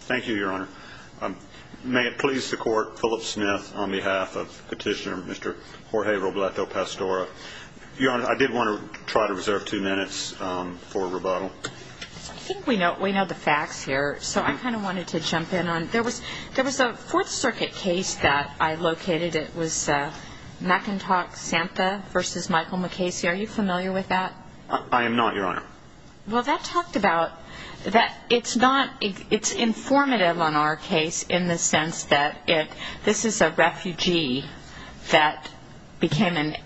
Thank you, Your Honor. May it please the Court, Philip Smith on behalf of Petitioner Mr. Jorge Robleto-Pastora. Your Honor, I did want to try to reserve two minutes for rebuttal. I think we know the facts here, so I kind of wanted to jump in. There was a Fourth Circuit case that I located. It was McIntosh-Santa v. Michael MacCasey. Are you familiar with that? I am not, Your Honor. Well, that talked about that it's informative on our case in the sense that this is a refugee that became an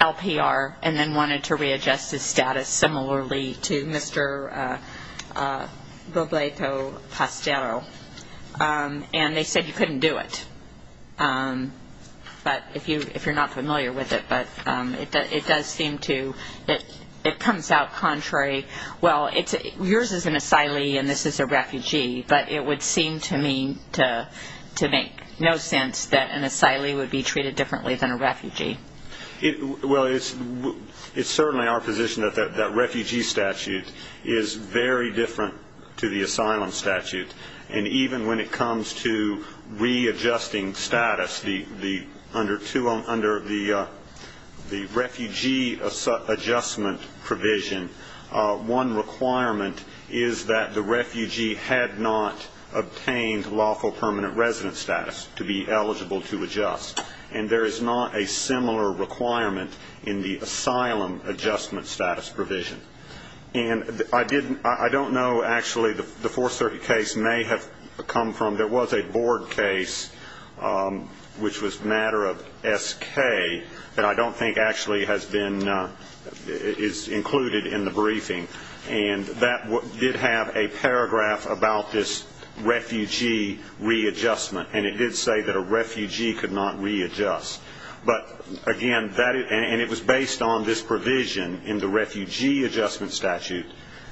LPR and then wanted to readjust his status similarly to Mr. Robleto-Pastora, and they said he couldn't do it. But if you're not familiar with it, it does seem to, it comes out contrary. Well, yours is an asylee and this is a refugee, but it would seem to me to make no sense that an asylee would be treated differently than a refugee. Well, it's certainly our position that that refugee statute is very different to the asylum statute, and even when it comes to readjusting status under the refugee adjustment provision, one requirement is that the refugee had not obtained lawful permanent residence status to be eligible to adjust, and there is not a similar requirement in the asylum adjustment status provision. And I don't know, actually, the 430 case may have come from, there was a board case which was a matter of SK that I don't think actually has been, is included in the briefing, and that did have a paragraph about this refugee readjustment, and it did say that a refugee could not readjust. But, again, and it was based on this provision in the refugee adjustment statute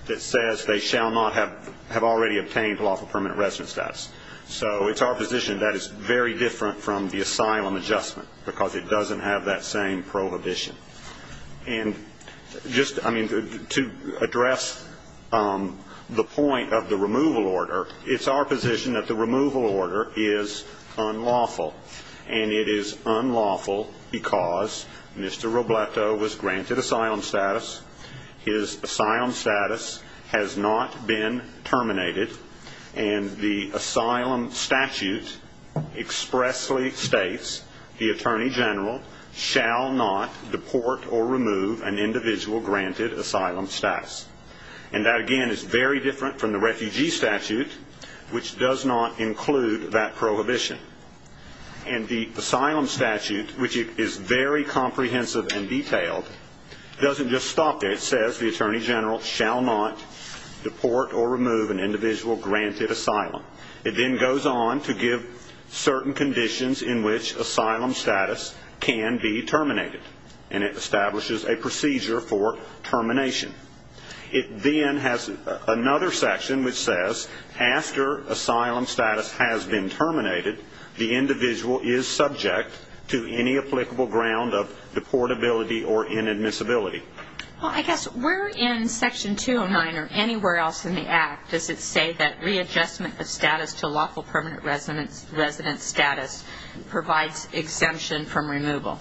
that says they shall not have already obtained lawful permanent residence status. So it's our position that it's very different from the asylum adjustment because it doesn't have that same prohibition. And just, I mean, to address the point of the removal order, it's our position that the removal order is unlawful, and it is unlawful because Mr. Robleto was granted asylum status, his asylum status has not been terminated, and the asylum statute expressly states the Attorney General shall not deport or remove an individual granted asylum status. And that, again, is very different from the refugee statute, which does not include that prohibition. And the asylum statute, which is very comprehensive and detailed, doesn't just stop there. It says the Attorney General shall not deport or remove an individual granted asylum. It then goes on to give certain conditions in which asylum status can be terminated, and it establishes a procedure for termination. It then has another section which says after asylum status has been terminated, the individual is subject to any applicable ground of deportability or inadmissibility. Well, I guess where in Section 209 or anywhere else in the Act does it say that readjustment of status to lawful permanent residence status provides exemption from removal?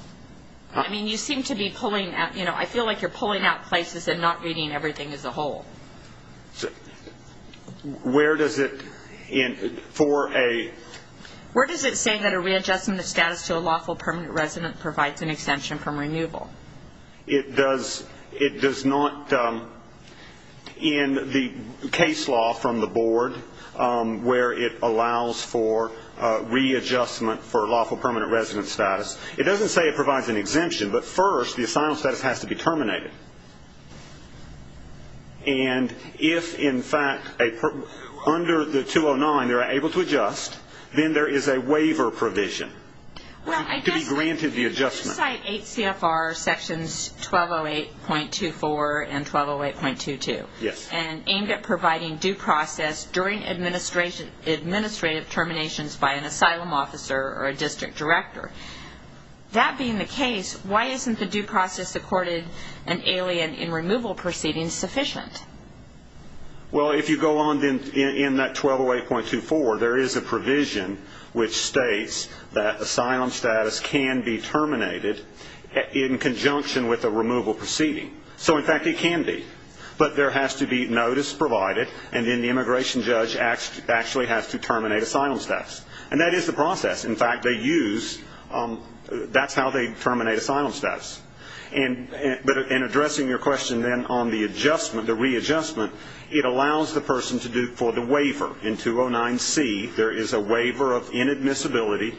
I mean, you seem to be pulling out, you know, I feel like you're pulling out places and not reading everything as a whole. Where does it, in, for a- Where does it say that a readjustment of status to a lawful permanent residence provides an exemption from removal? It does not, in the case law from the Board where it allows for readjustment for lawful permanent residence status, it doesn't say it provides an exemption, but first the asylum status has to be terminated. And if, in fact, under the 209 they're able to adjust, then there is a waiver provision to be granted the adjustment. Well, I guess you cite 8 CFR sections 1208.24 and 1208.22. Yes. Well, if you go on in that 1208.24, there is a provision which states that asylum status can be terminated in conjunction with a removal proceeding. So, in fact, it can be. But there has to be notice provided, and then the immigration judge actually has to terminate asylum status. And that is the process. In fact, they use, that's how they terminate asylum status. But in addressing your question then on the adjustment, the readjustment, it allows the person to do, for the waiver in 209C, there is a waiver of inadmissibility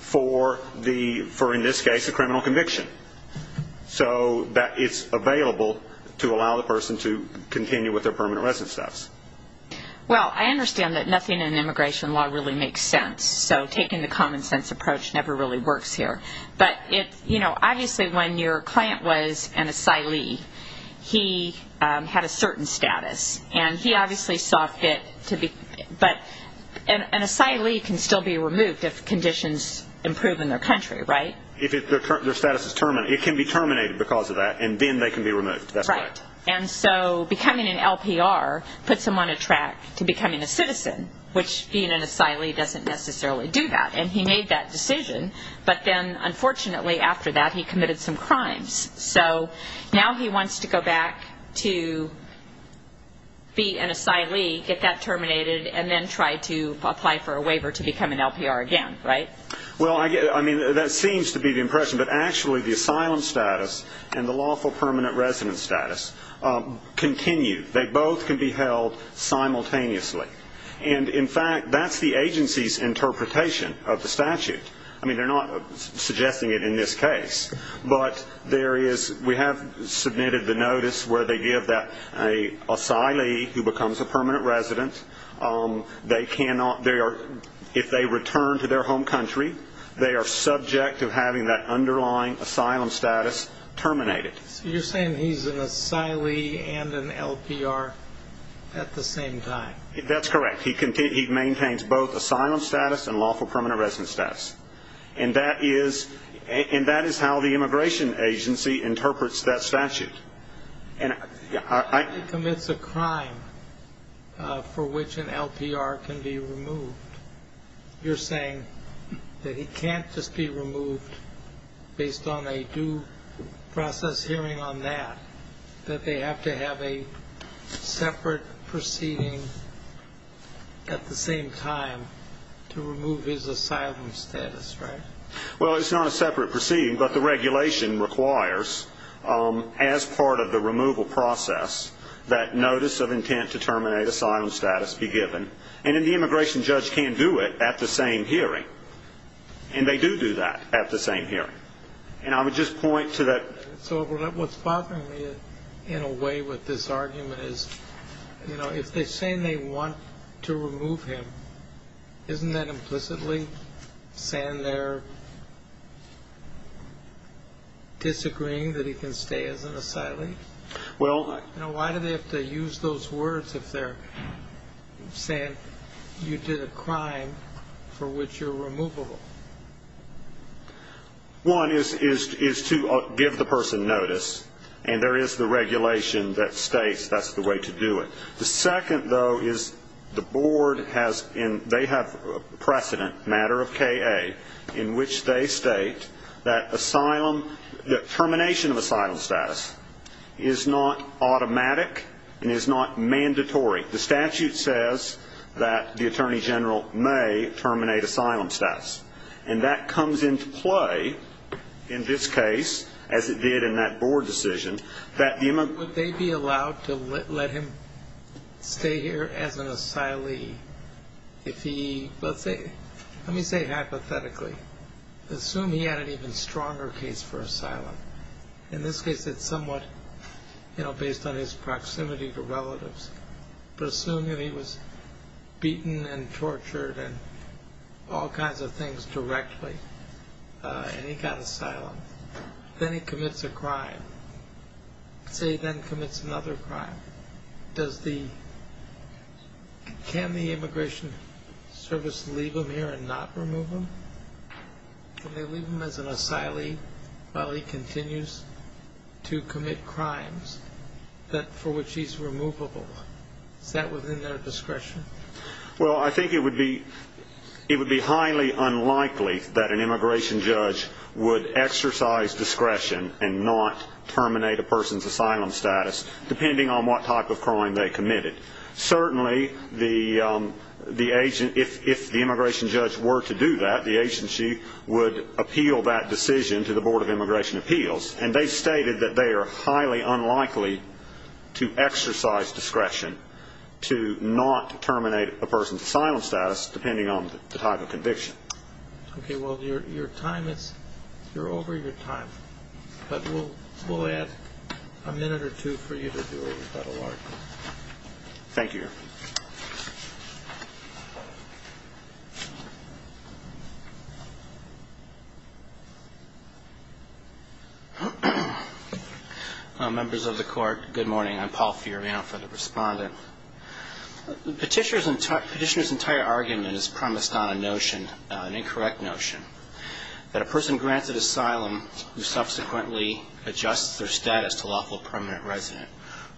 for the, for in this case, a criminal conviction. So that it's available to allow the person to continue with their permanent residence status. Well, I understand that nothing in immigration law really makes sense. So taking the common sense approach never really works here. But, you know, obviously when your client was an asylee, he had a certain status. And he obviously saw fit to be, but an asylee can still be removed if conditions improve in their country, right? If their status is terminated. It can be terminated because of that, and then they can be removed. That's right. And so becoming an LPR puts them on a track to becoming a citizen, which being an asylee doesn't necessarily do that. And he made that decision. But then, unfortunately, after that, he committed some crimes. So now he wants to go back to be an asylee, get that terminated, and then try to apply for a waiver to become an LPR again, right? Well, I mean, that seems to be the impression. But, actually, the asylum status and the lawful permanent residence status continue. They both can be held simultaneously. And, in fact, that's the agency's interpretation of the statute. I mean, they're not suggesting it in this case. But there is we have submitted the notice where they give that asylee who becomes a permanent resident, if they return to their home country, they are subject to having that underlying asylum status terminated. So you're saying he's an asylee and an LPR at the same time? That's correct. He maintains both asylum status and lawful permanent residence status. And that is how the immigration agency interprets that statute. He commits a crime for which an LPR can be removed. You're saying that he can't just be removed based on a due process hearing on that, that they have to have a separate proceeding at the same time to remove his asylum status, right? Well, it's not a separate proceeding, but the regulation requires, as part of the removal process, that notice of intent to terminate asylum status be given. And then the immigration judge can't do it at the same hearing. And they do do that at the same hearing. And I would just point to that. So what's bothering me in a way with this argument is, you know, if they're saying they want to remove him, isn't that implicitly saying they're disagreeing that he can stay as an asylee? You know, why do they have to use those words if they're saying you did a crime for which you're removable? One is to give the person notice. And there is the regulation that states that's the way to do it. The second, though, is the board has and they have precedent, matter of K.A., in which they state that asylum, that termination of asylum status is not automatic and is not mandatory. The statute says that the attorney general may terminate asylum status. And that comes into play in this case, as it did in that board decision, that the immigrant ---- stay here as an asylee if he, let's say, let me say hypothetically, assume he had an even stronger case for asylum. In this case, it's somewhat, you know, based on his proximity to relatives. But assume that he was beaten and tortured and all kinds of things directly, and he got asylum. Then he commits a crime. Say he then commits another crime. Does the ---- can the immigration service leave him here and not remove him? Can they leave him as an asylee while he continues to commit crimes for which he's removable? Is that within their discretion? Well, I think it would be highly unlikely that an immigration judge would exercise discretion and not terminate a person's asylum status depending on what type of crime they committed. Certainly, the agent ---- if the immigration judge were to do that, the agency would appeal that decision to the Board of Immigration Appeals. And they stated that they are highly unlikely to exercise discretion to not terminate a person's asylum status depending on the type of conviction. Okay, well, your time is ---- you're over your time. But we'll add a minute or two for you to do a rebuttal argument. Thank you. Members of the Court, good morning. I'm Paul Fioriano for the Respondent. Petitioner's entire argument is premised on a notion, an incorrect notion, that a person granted asylum who subsequently adjusts their status to lawful permanent resident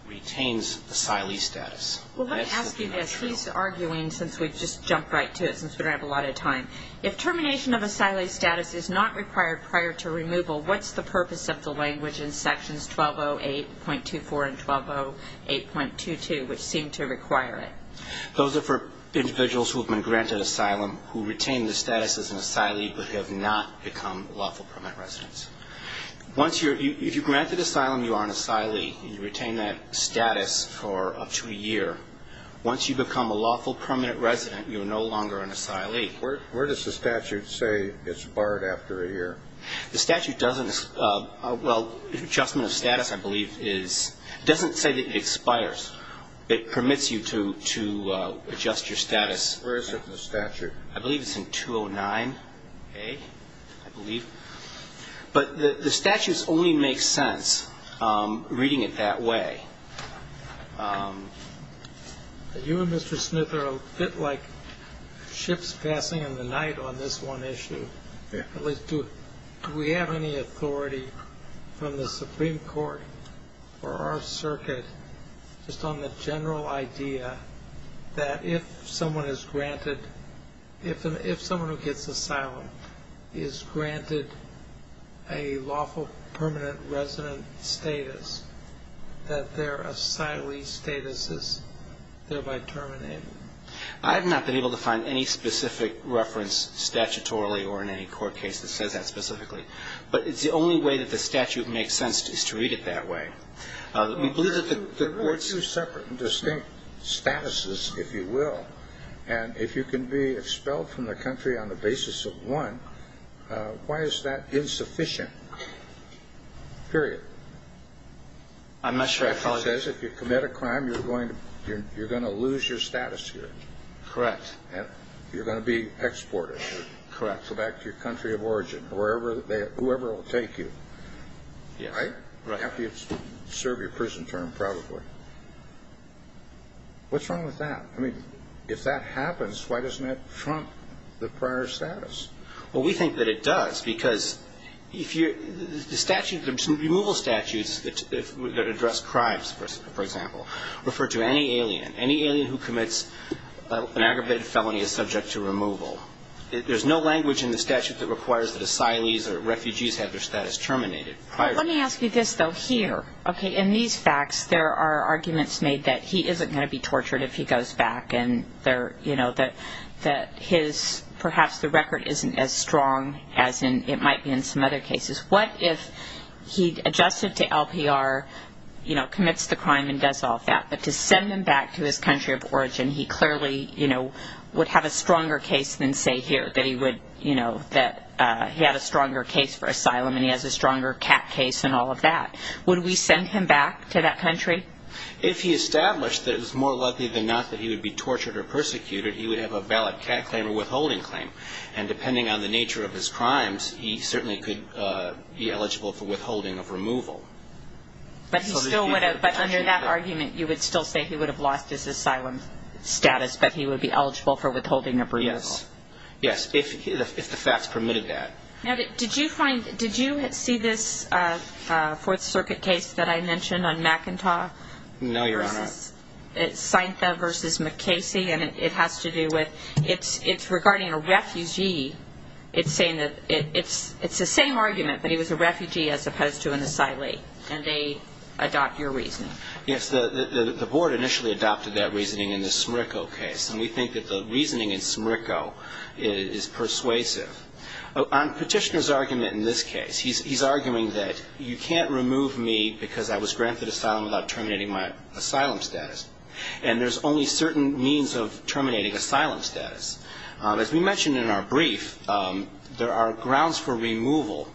retains asylee status. Well, let me ask you this. He's arguing since we've just jumped right to it since we don't have a lot of time. If termination of asylee status is not required prior to removal, what's the purpose of the language in Sections 1208.24 and 1208.22 which seem to require it? Those are for individuals who have been granted asylum who retain the status as an asylee but have not become lawful permanent residents. Once you're ---- if you're granted asylum, you are an asylee. You retain that status for up to a year. Once you become a lawful permanent resident, you are no longer an asylee. Where does the statute say it's barred after a year? The statute doesn't ---- well, adjustment of status, I believe, is ---- doesn't say that it expires. It permits you to adjust your status. Where is it in the statute? I believe it's in 209A, I believe. But the statute only makes sense reading it that way. You and Mr. Smith are a bit like ships passing in the night on this one issue. Yes. At least, do we have any authority from the Supreme Court or our circuit just on the general idea that if someone is granted ---- if someone who gets asylum is granted a lawful permanent resident status, that their asylee status is thereby terminated? I have not been able to find any specific reference statutorily or in any court case that says that specifically. But it's the only way that the statute makes sense is to read it that way. We believe that the ---- There are two separate and distinct statuses, if you will. And if you can be expelled from the country on the basis of one, why is that insufficient? Period. I'm not sure I follow. It says if you commit a crime, you're going to lose your status here. Correct. You're going to be exported. Correct. Go back to your country of origin, whoever will take you. Right? Right. After you serve your prison term, probably. What's wrong with that? I mean, if that happens, why doesn't that trump the prior status? Well, we think that it does, because the removal statutes that address crimes, for example, refer to any alien. Any alien who commits an aggravated felony is subject to removal. There's no language in the statute that requires that asylees or refugees have their status terminated. Let me ask you this, though, here. Okay, in these facts, there are arguments made that he isn't going to be tortured if he goes back and that perhaps the record isn't as strong as it might be in some other cases. What if he adjusted to LPR, commits the crime, and does all of that, but to send him back to his country of origin, he clearly would have a stronger case than, say, here, that he had a stronger case for asylum and he has a stronger cat case and all of that. Would we send him back to that country? If he established that it was more likely than not that he would be tortured or persecuted, he would have a valid cat claim or withholding claim. And depending on the nature of his crimes, he certainly could be eligible for withholding of removal. But under that argument, you would still say he would have lost his asylum status, but he would be eligible for withholding of removal. Yes, if the facts permitted that. Now, did you find, did you see this Fourth Circuit case that I mentioned on McIntosh? No, Your Honor. It's Saintha v. McKasey, and it has to do with, it's regarding a refugee. It's saying that it's the same argument, but he was a refugee as opposed to an asylee, and they adopt your reasoning. Yes, the board initially adopted that reasoning in the Smricco case, and we think that the reasoning in Smricco is persuasive. On Petitioner's argument in this case, he's arguing that you can't remove me because I was granted asylum without terminating my asylum status, and there's only certain means of terminating asylum status. As we mentioned in our brief, there are grounds for removal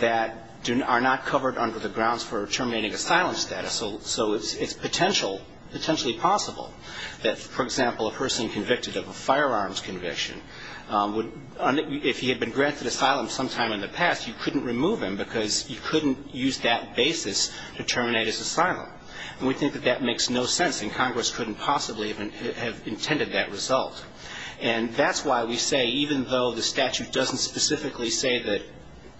that are not covered under the grounds for terminating asylum status, so it's potentially possible that, for example, a person convicted of a firearms conviction, if he had been granted asylum sometime in the past, you couldn't remove him because you couldn't use that basis to terminate his asylum, and we think that that makes no sense, and Congress couldn't possibly have intended that result. And that's why we say even though the statute doesn't specifically say that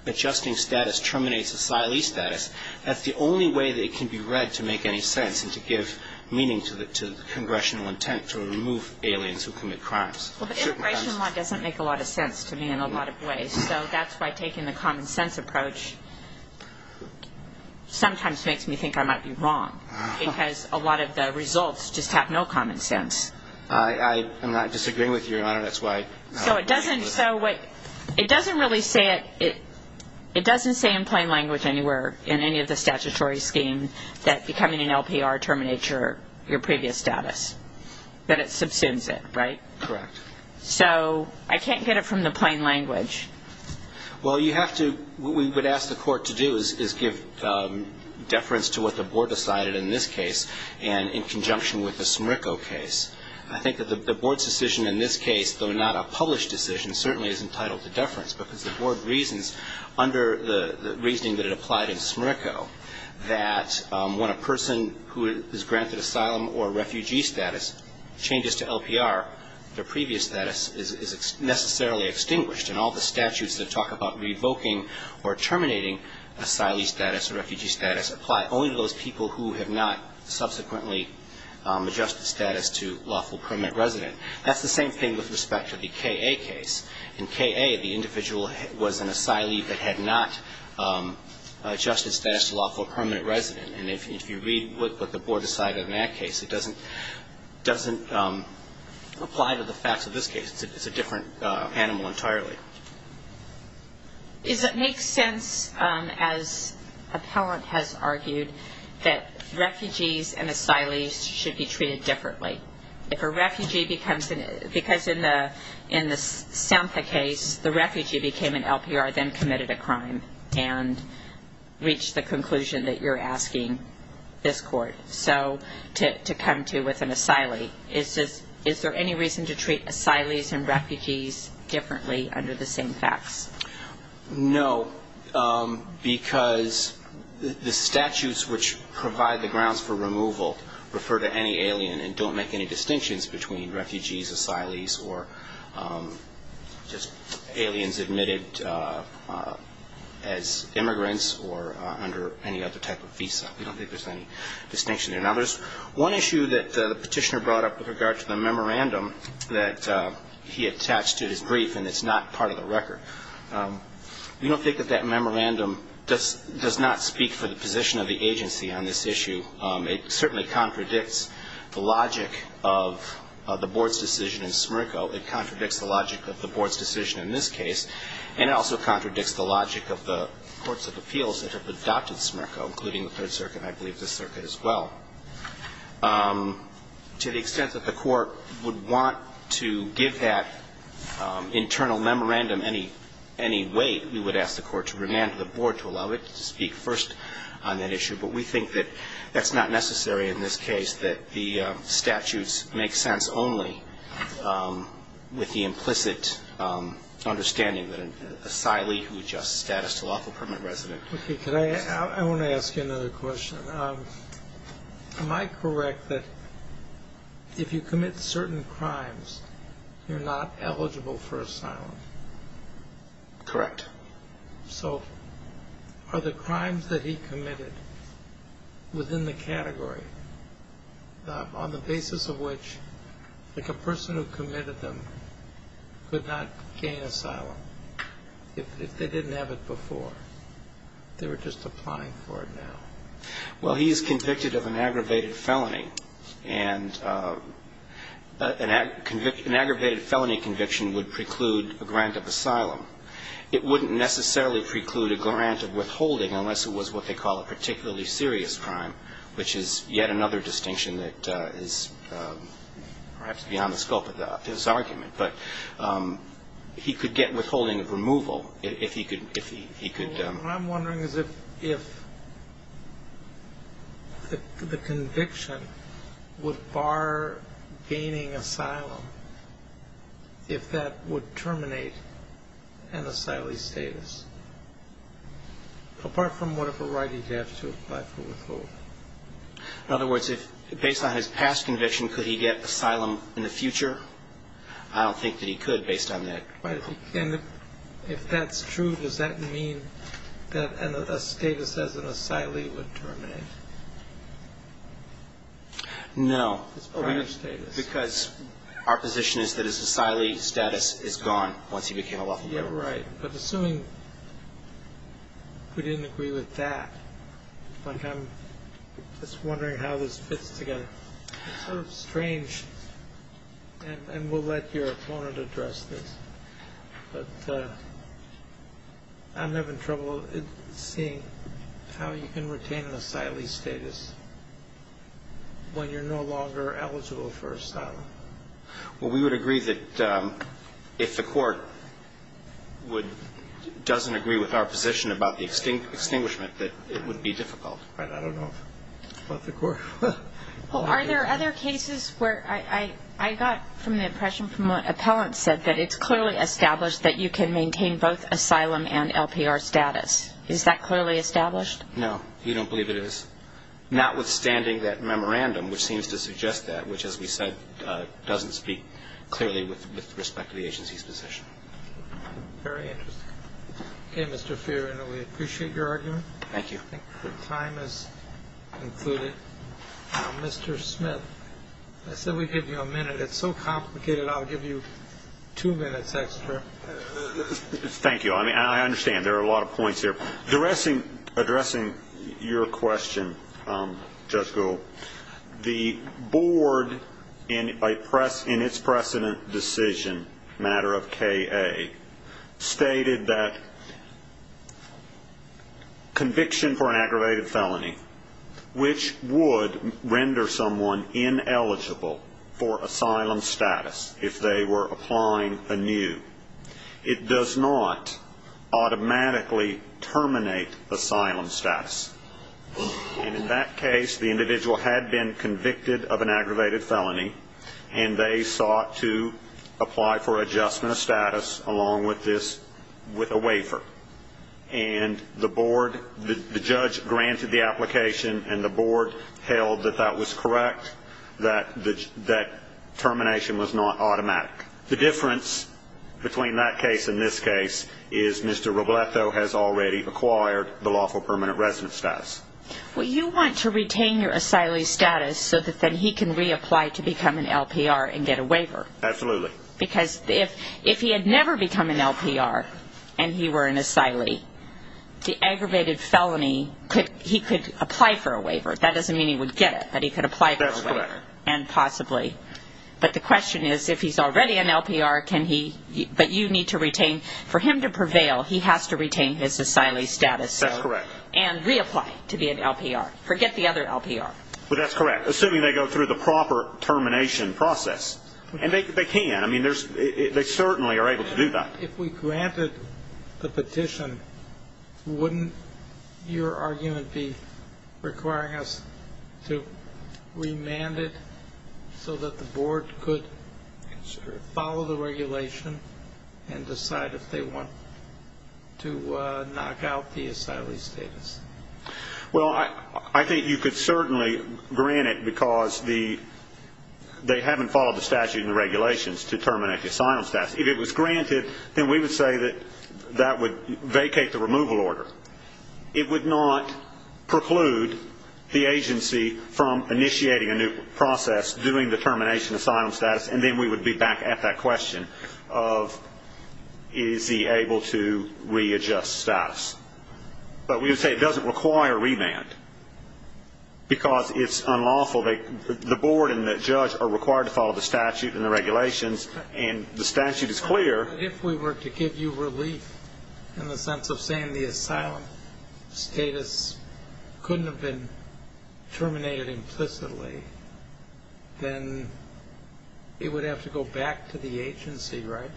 adjusting status terminates asylee status, that's the only way that it can be read to make any sense and to give meaning to congressional intent to remove aliens who commit crimes. Well, the immigration law doesn't make a lot of sense to me in a lot of ways, so that's why taking the common sense approach sometimes makes me think I might be wrong because a lot of the results just have no common sense. I am not disagreeing with you, Your Honor. That's why... So it doesn't really say it. It doesn't say in plain language anywhere in any of the statutory scheme that becoming an LPR terminates your previous status, that it subsumes it, right? Correct. So I can't get it from the plain language. Well, you have to... What we would ask the Court to do is give deference to what the Board decided in this case and in conjunction with the Smricco case. I think that the Board's decision in this case, though not a published decision, certainly is entitled to deference because the Board reasons, under the reasoning that it applied in Smricco, that when a person who is granted asylum or refugee status changes to LPR, their previous status is necessarily extinguished, and all the statutes that talk about revoking or terminating asylee status or refugee status apply only to those people who have not subsequently adjusted status to lawful permanent resident. That's the same thing with respect to the K.A. case. In K.A., the individual was an asylee that had not adjusted status to lawful permanent resident. And if you read what the Board decided in that case, it doesn't apply to the facts of this case. It's a different animal entirely. Does it make sense, as Appellant has argued, that refugees and asylees should be treated differently? If a refugee becomes an asylee, because in the Sampha case, the refugee became an LPR, then committed a crime, and reached the conclusion that you're asking this court to come to with an asylee. Is there any reason to treat asylees and refugees differently under the same facts? No, because the statutes which provide the grounds for removal refer to any alien and don't make any distinctions between refugees, asylees, or just aliens admitted as immigrants or under any other type of visa. We don't think there's any distinction there. Now, there's one issue that the petitioner brought up with regard to the memorandum that he attached to his brief and that's not part of the record. We don't think that that memorandum does not speak for the position of the agency on this issue. It certainly contradicts the logic of the board's decision in Smirko. It contradicts the logic of the board's decision in this case, and it also contradicts the logic of the courts of appeals that have adopted Smirko, including the Third Circuit and I believe the circuit as well. To the extent that the court would want to give that internal memorandum any weight, we would ask the court to remand the board to allow it to speak first on that issue. But we think that that's not necessary in this case, that the statutes make sense only with the implicit understanding that an asylee who adjusts status to lawful permanent residence. Okay. I want to ask you another question. Am I correct that if you commit certain crimes, you're not eligible for asylum? Correct. So are the crimes that he committed within the category on the basis of which, like a person who committed them could not gain asylum if they didn't have it before? They were just applying for it now. Well, he is convicted of an aggravated felony, and an aggravated felony conviction would preclude a grant of asylum. It wouldn't necessarily preclude a grant of withholding unless it was what they call a particularly serious crime, which is yet another distinction that is perhaps beyond the scope of his argument. But he could get withholding of removal if he could. What I'm wondering is if the conviction would bar gaining asylum if that would terminate an asylee's status, apart from whatever right he'd have to apply for withholding. In other words, based on his past conviction, could he get asylum in the future? I don't think that he could based on that. If that's true, does that mean that a status as an asylee would terminate? No. Because our position is that his asylee status is gone once he became a lawful member. Right. But assuming we didn't agree with that, I'm just wondering how this fits together. It's sort of strange, and we'll let your opponent address this, but I'm having trouble seeing how you can retain an asylee's status when you're no longer eligible for asylum. Well, we would agree that if the Court doesn't agree with our position about the extinguishment, that it would be difficult. But I don't know about the Court. Well, are there other cases where I got from the impression from what Appellant said, that it's clearly established that you can maintain both asylum and LPR status. Is that clearly established? No. We don't believe it is. Notwithstanding that memorandum, which seems to suggest that, which, as we said, doesn't speak clearly with respect to the agency's position. Very interesting. Okay, Mr. Fiorina, we appreciate your argument. Thank you. I think our time has concluded. Mr. Smith, I said we'd give you a minute. It's so complicated, I'll give you two minutes extra. Thank you. I mean, I understand there are a lot of points there. Addressing your question, Judge Gould, the Board, in its precedent decision, matter of K.A., stated that conviction for an aggravated felony, which would render someone ineligible for asylum status if they were applying anew, it does not automatically terminate asylum status. And in that case, the individual had been convicted of an aggravated felony, and they sought to apply for adjustment of status along with this with a waiver. And the Board, the judge granted the application, and the Board held that that was correct, that termination was not automatic. The difference between that case and this case is Mr. Robleto has already acquired the lawful permanent residence status. Well, you want to retain your asylee status so that then he can reapply to become an LPR and get a waiver. Absolutely. Because if he had never become an LPR and he were an asylee, the aggravated felony, he could apply for a waiver. That doesn't mean he would get it, but he could apply for a waiver. That's correct. And possibly. But the question is, if he's already an LPR, can he, but you need to retain. For him to prevail, he has to retain his asylee status. That's correct. And reapply to be an LPR. Forget the other LPR. Well, that's correct, assuming they go through the proper termination process. And they can. I mean, they certainly are able to do that. If we granted the petition, wouldn't your argument be requiring us to remand it so that the board could follow the regulation and decide if they want to knock out the asylee status? Well, I think you could certainly grant it because they haven't followed the statute and the regulations to terminate the asylum status. If it was granted, then we would say that that would vacate the removal order. It would not preclude the agency from initiating a new process, doing the termination asylum status, and then we would be back at that question of is he able to readjust status. But we would say it doesn't require remand because it's unlawful. The board and the judge are required to follow the statute and the regulations, and the statute is clear. But if we were to give you relief in the sense of saying the asylum status couldn't have been terminated implicitly, then it would have to go back to the agency, right?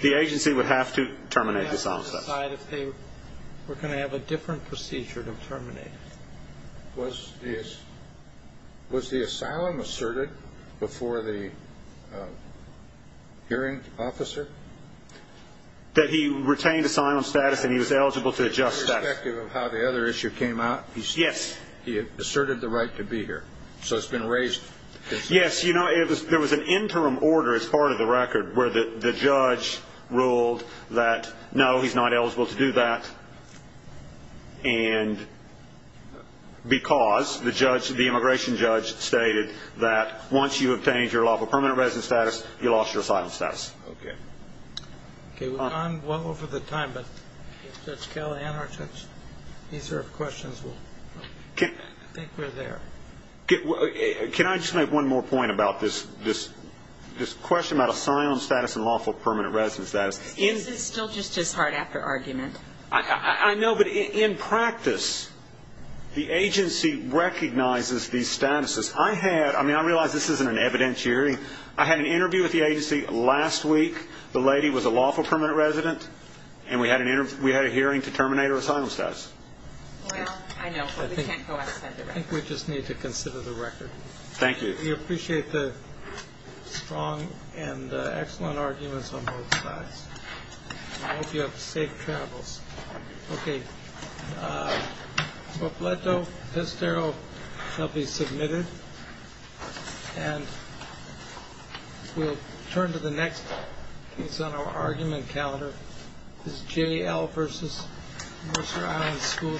The agency would have to terminate the asylum status. They would have to decide if they were going to have a different procedure to terminate it. Was the asylum asserted before the hearing officer? That he retained asylum status and he was eligible to adjust status. Irrespective of how the other issue came out? Yes. He asserted the right to be here. So it's been raised. Yes. There was an interim order as part of the record where the judge ruled that, no, he's not eligible to do that. And because the judge, the immigration judge, stated that once you obtained your lawful permanent residence status, you lost your asylum status. Okay. Okay. We've gone well over the time, but Judge Kelley and our judge, these are questions that I think were there. Can I just make one more point about this question about asylum status and lawful permanent residence status? Is it still just as hard after argument? I know, but in practice, the agency recognizes these statuses. I had, I mean, I realize this isn't an evidentiary. I had an interview with the agency last week. The lady was a lawful permanent resident, and we had a hearing to terminate her asylum status. Well, I know, but we can't go off that. I think we just need to consider the record. Thank you. We appreciate the strong and excellent arguments on both sides. I hope you have safe travels. Okay. Popleto, Pestero, they'll be submitted. And we'll turn to the next piece on our argument calendar. This is J.L. versus Mercer Island School.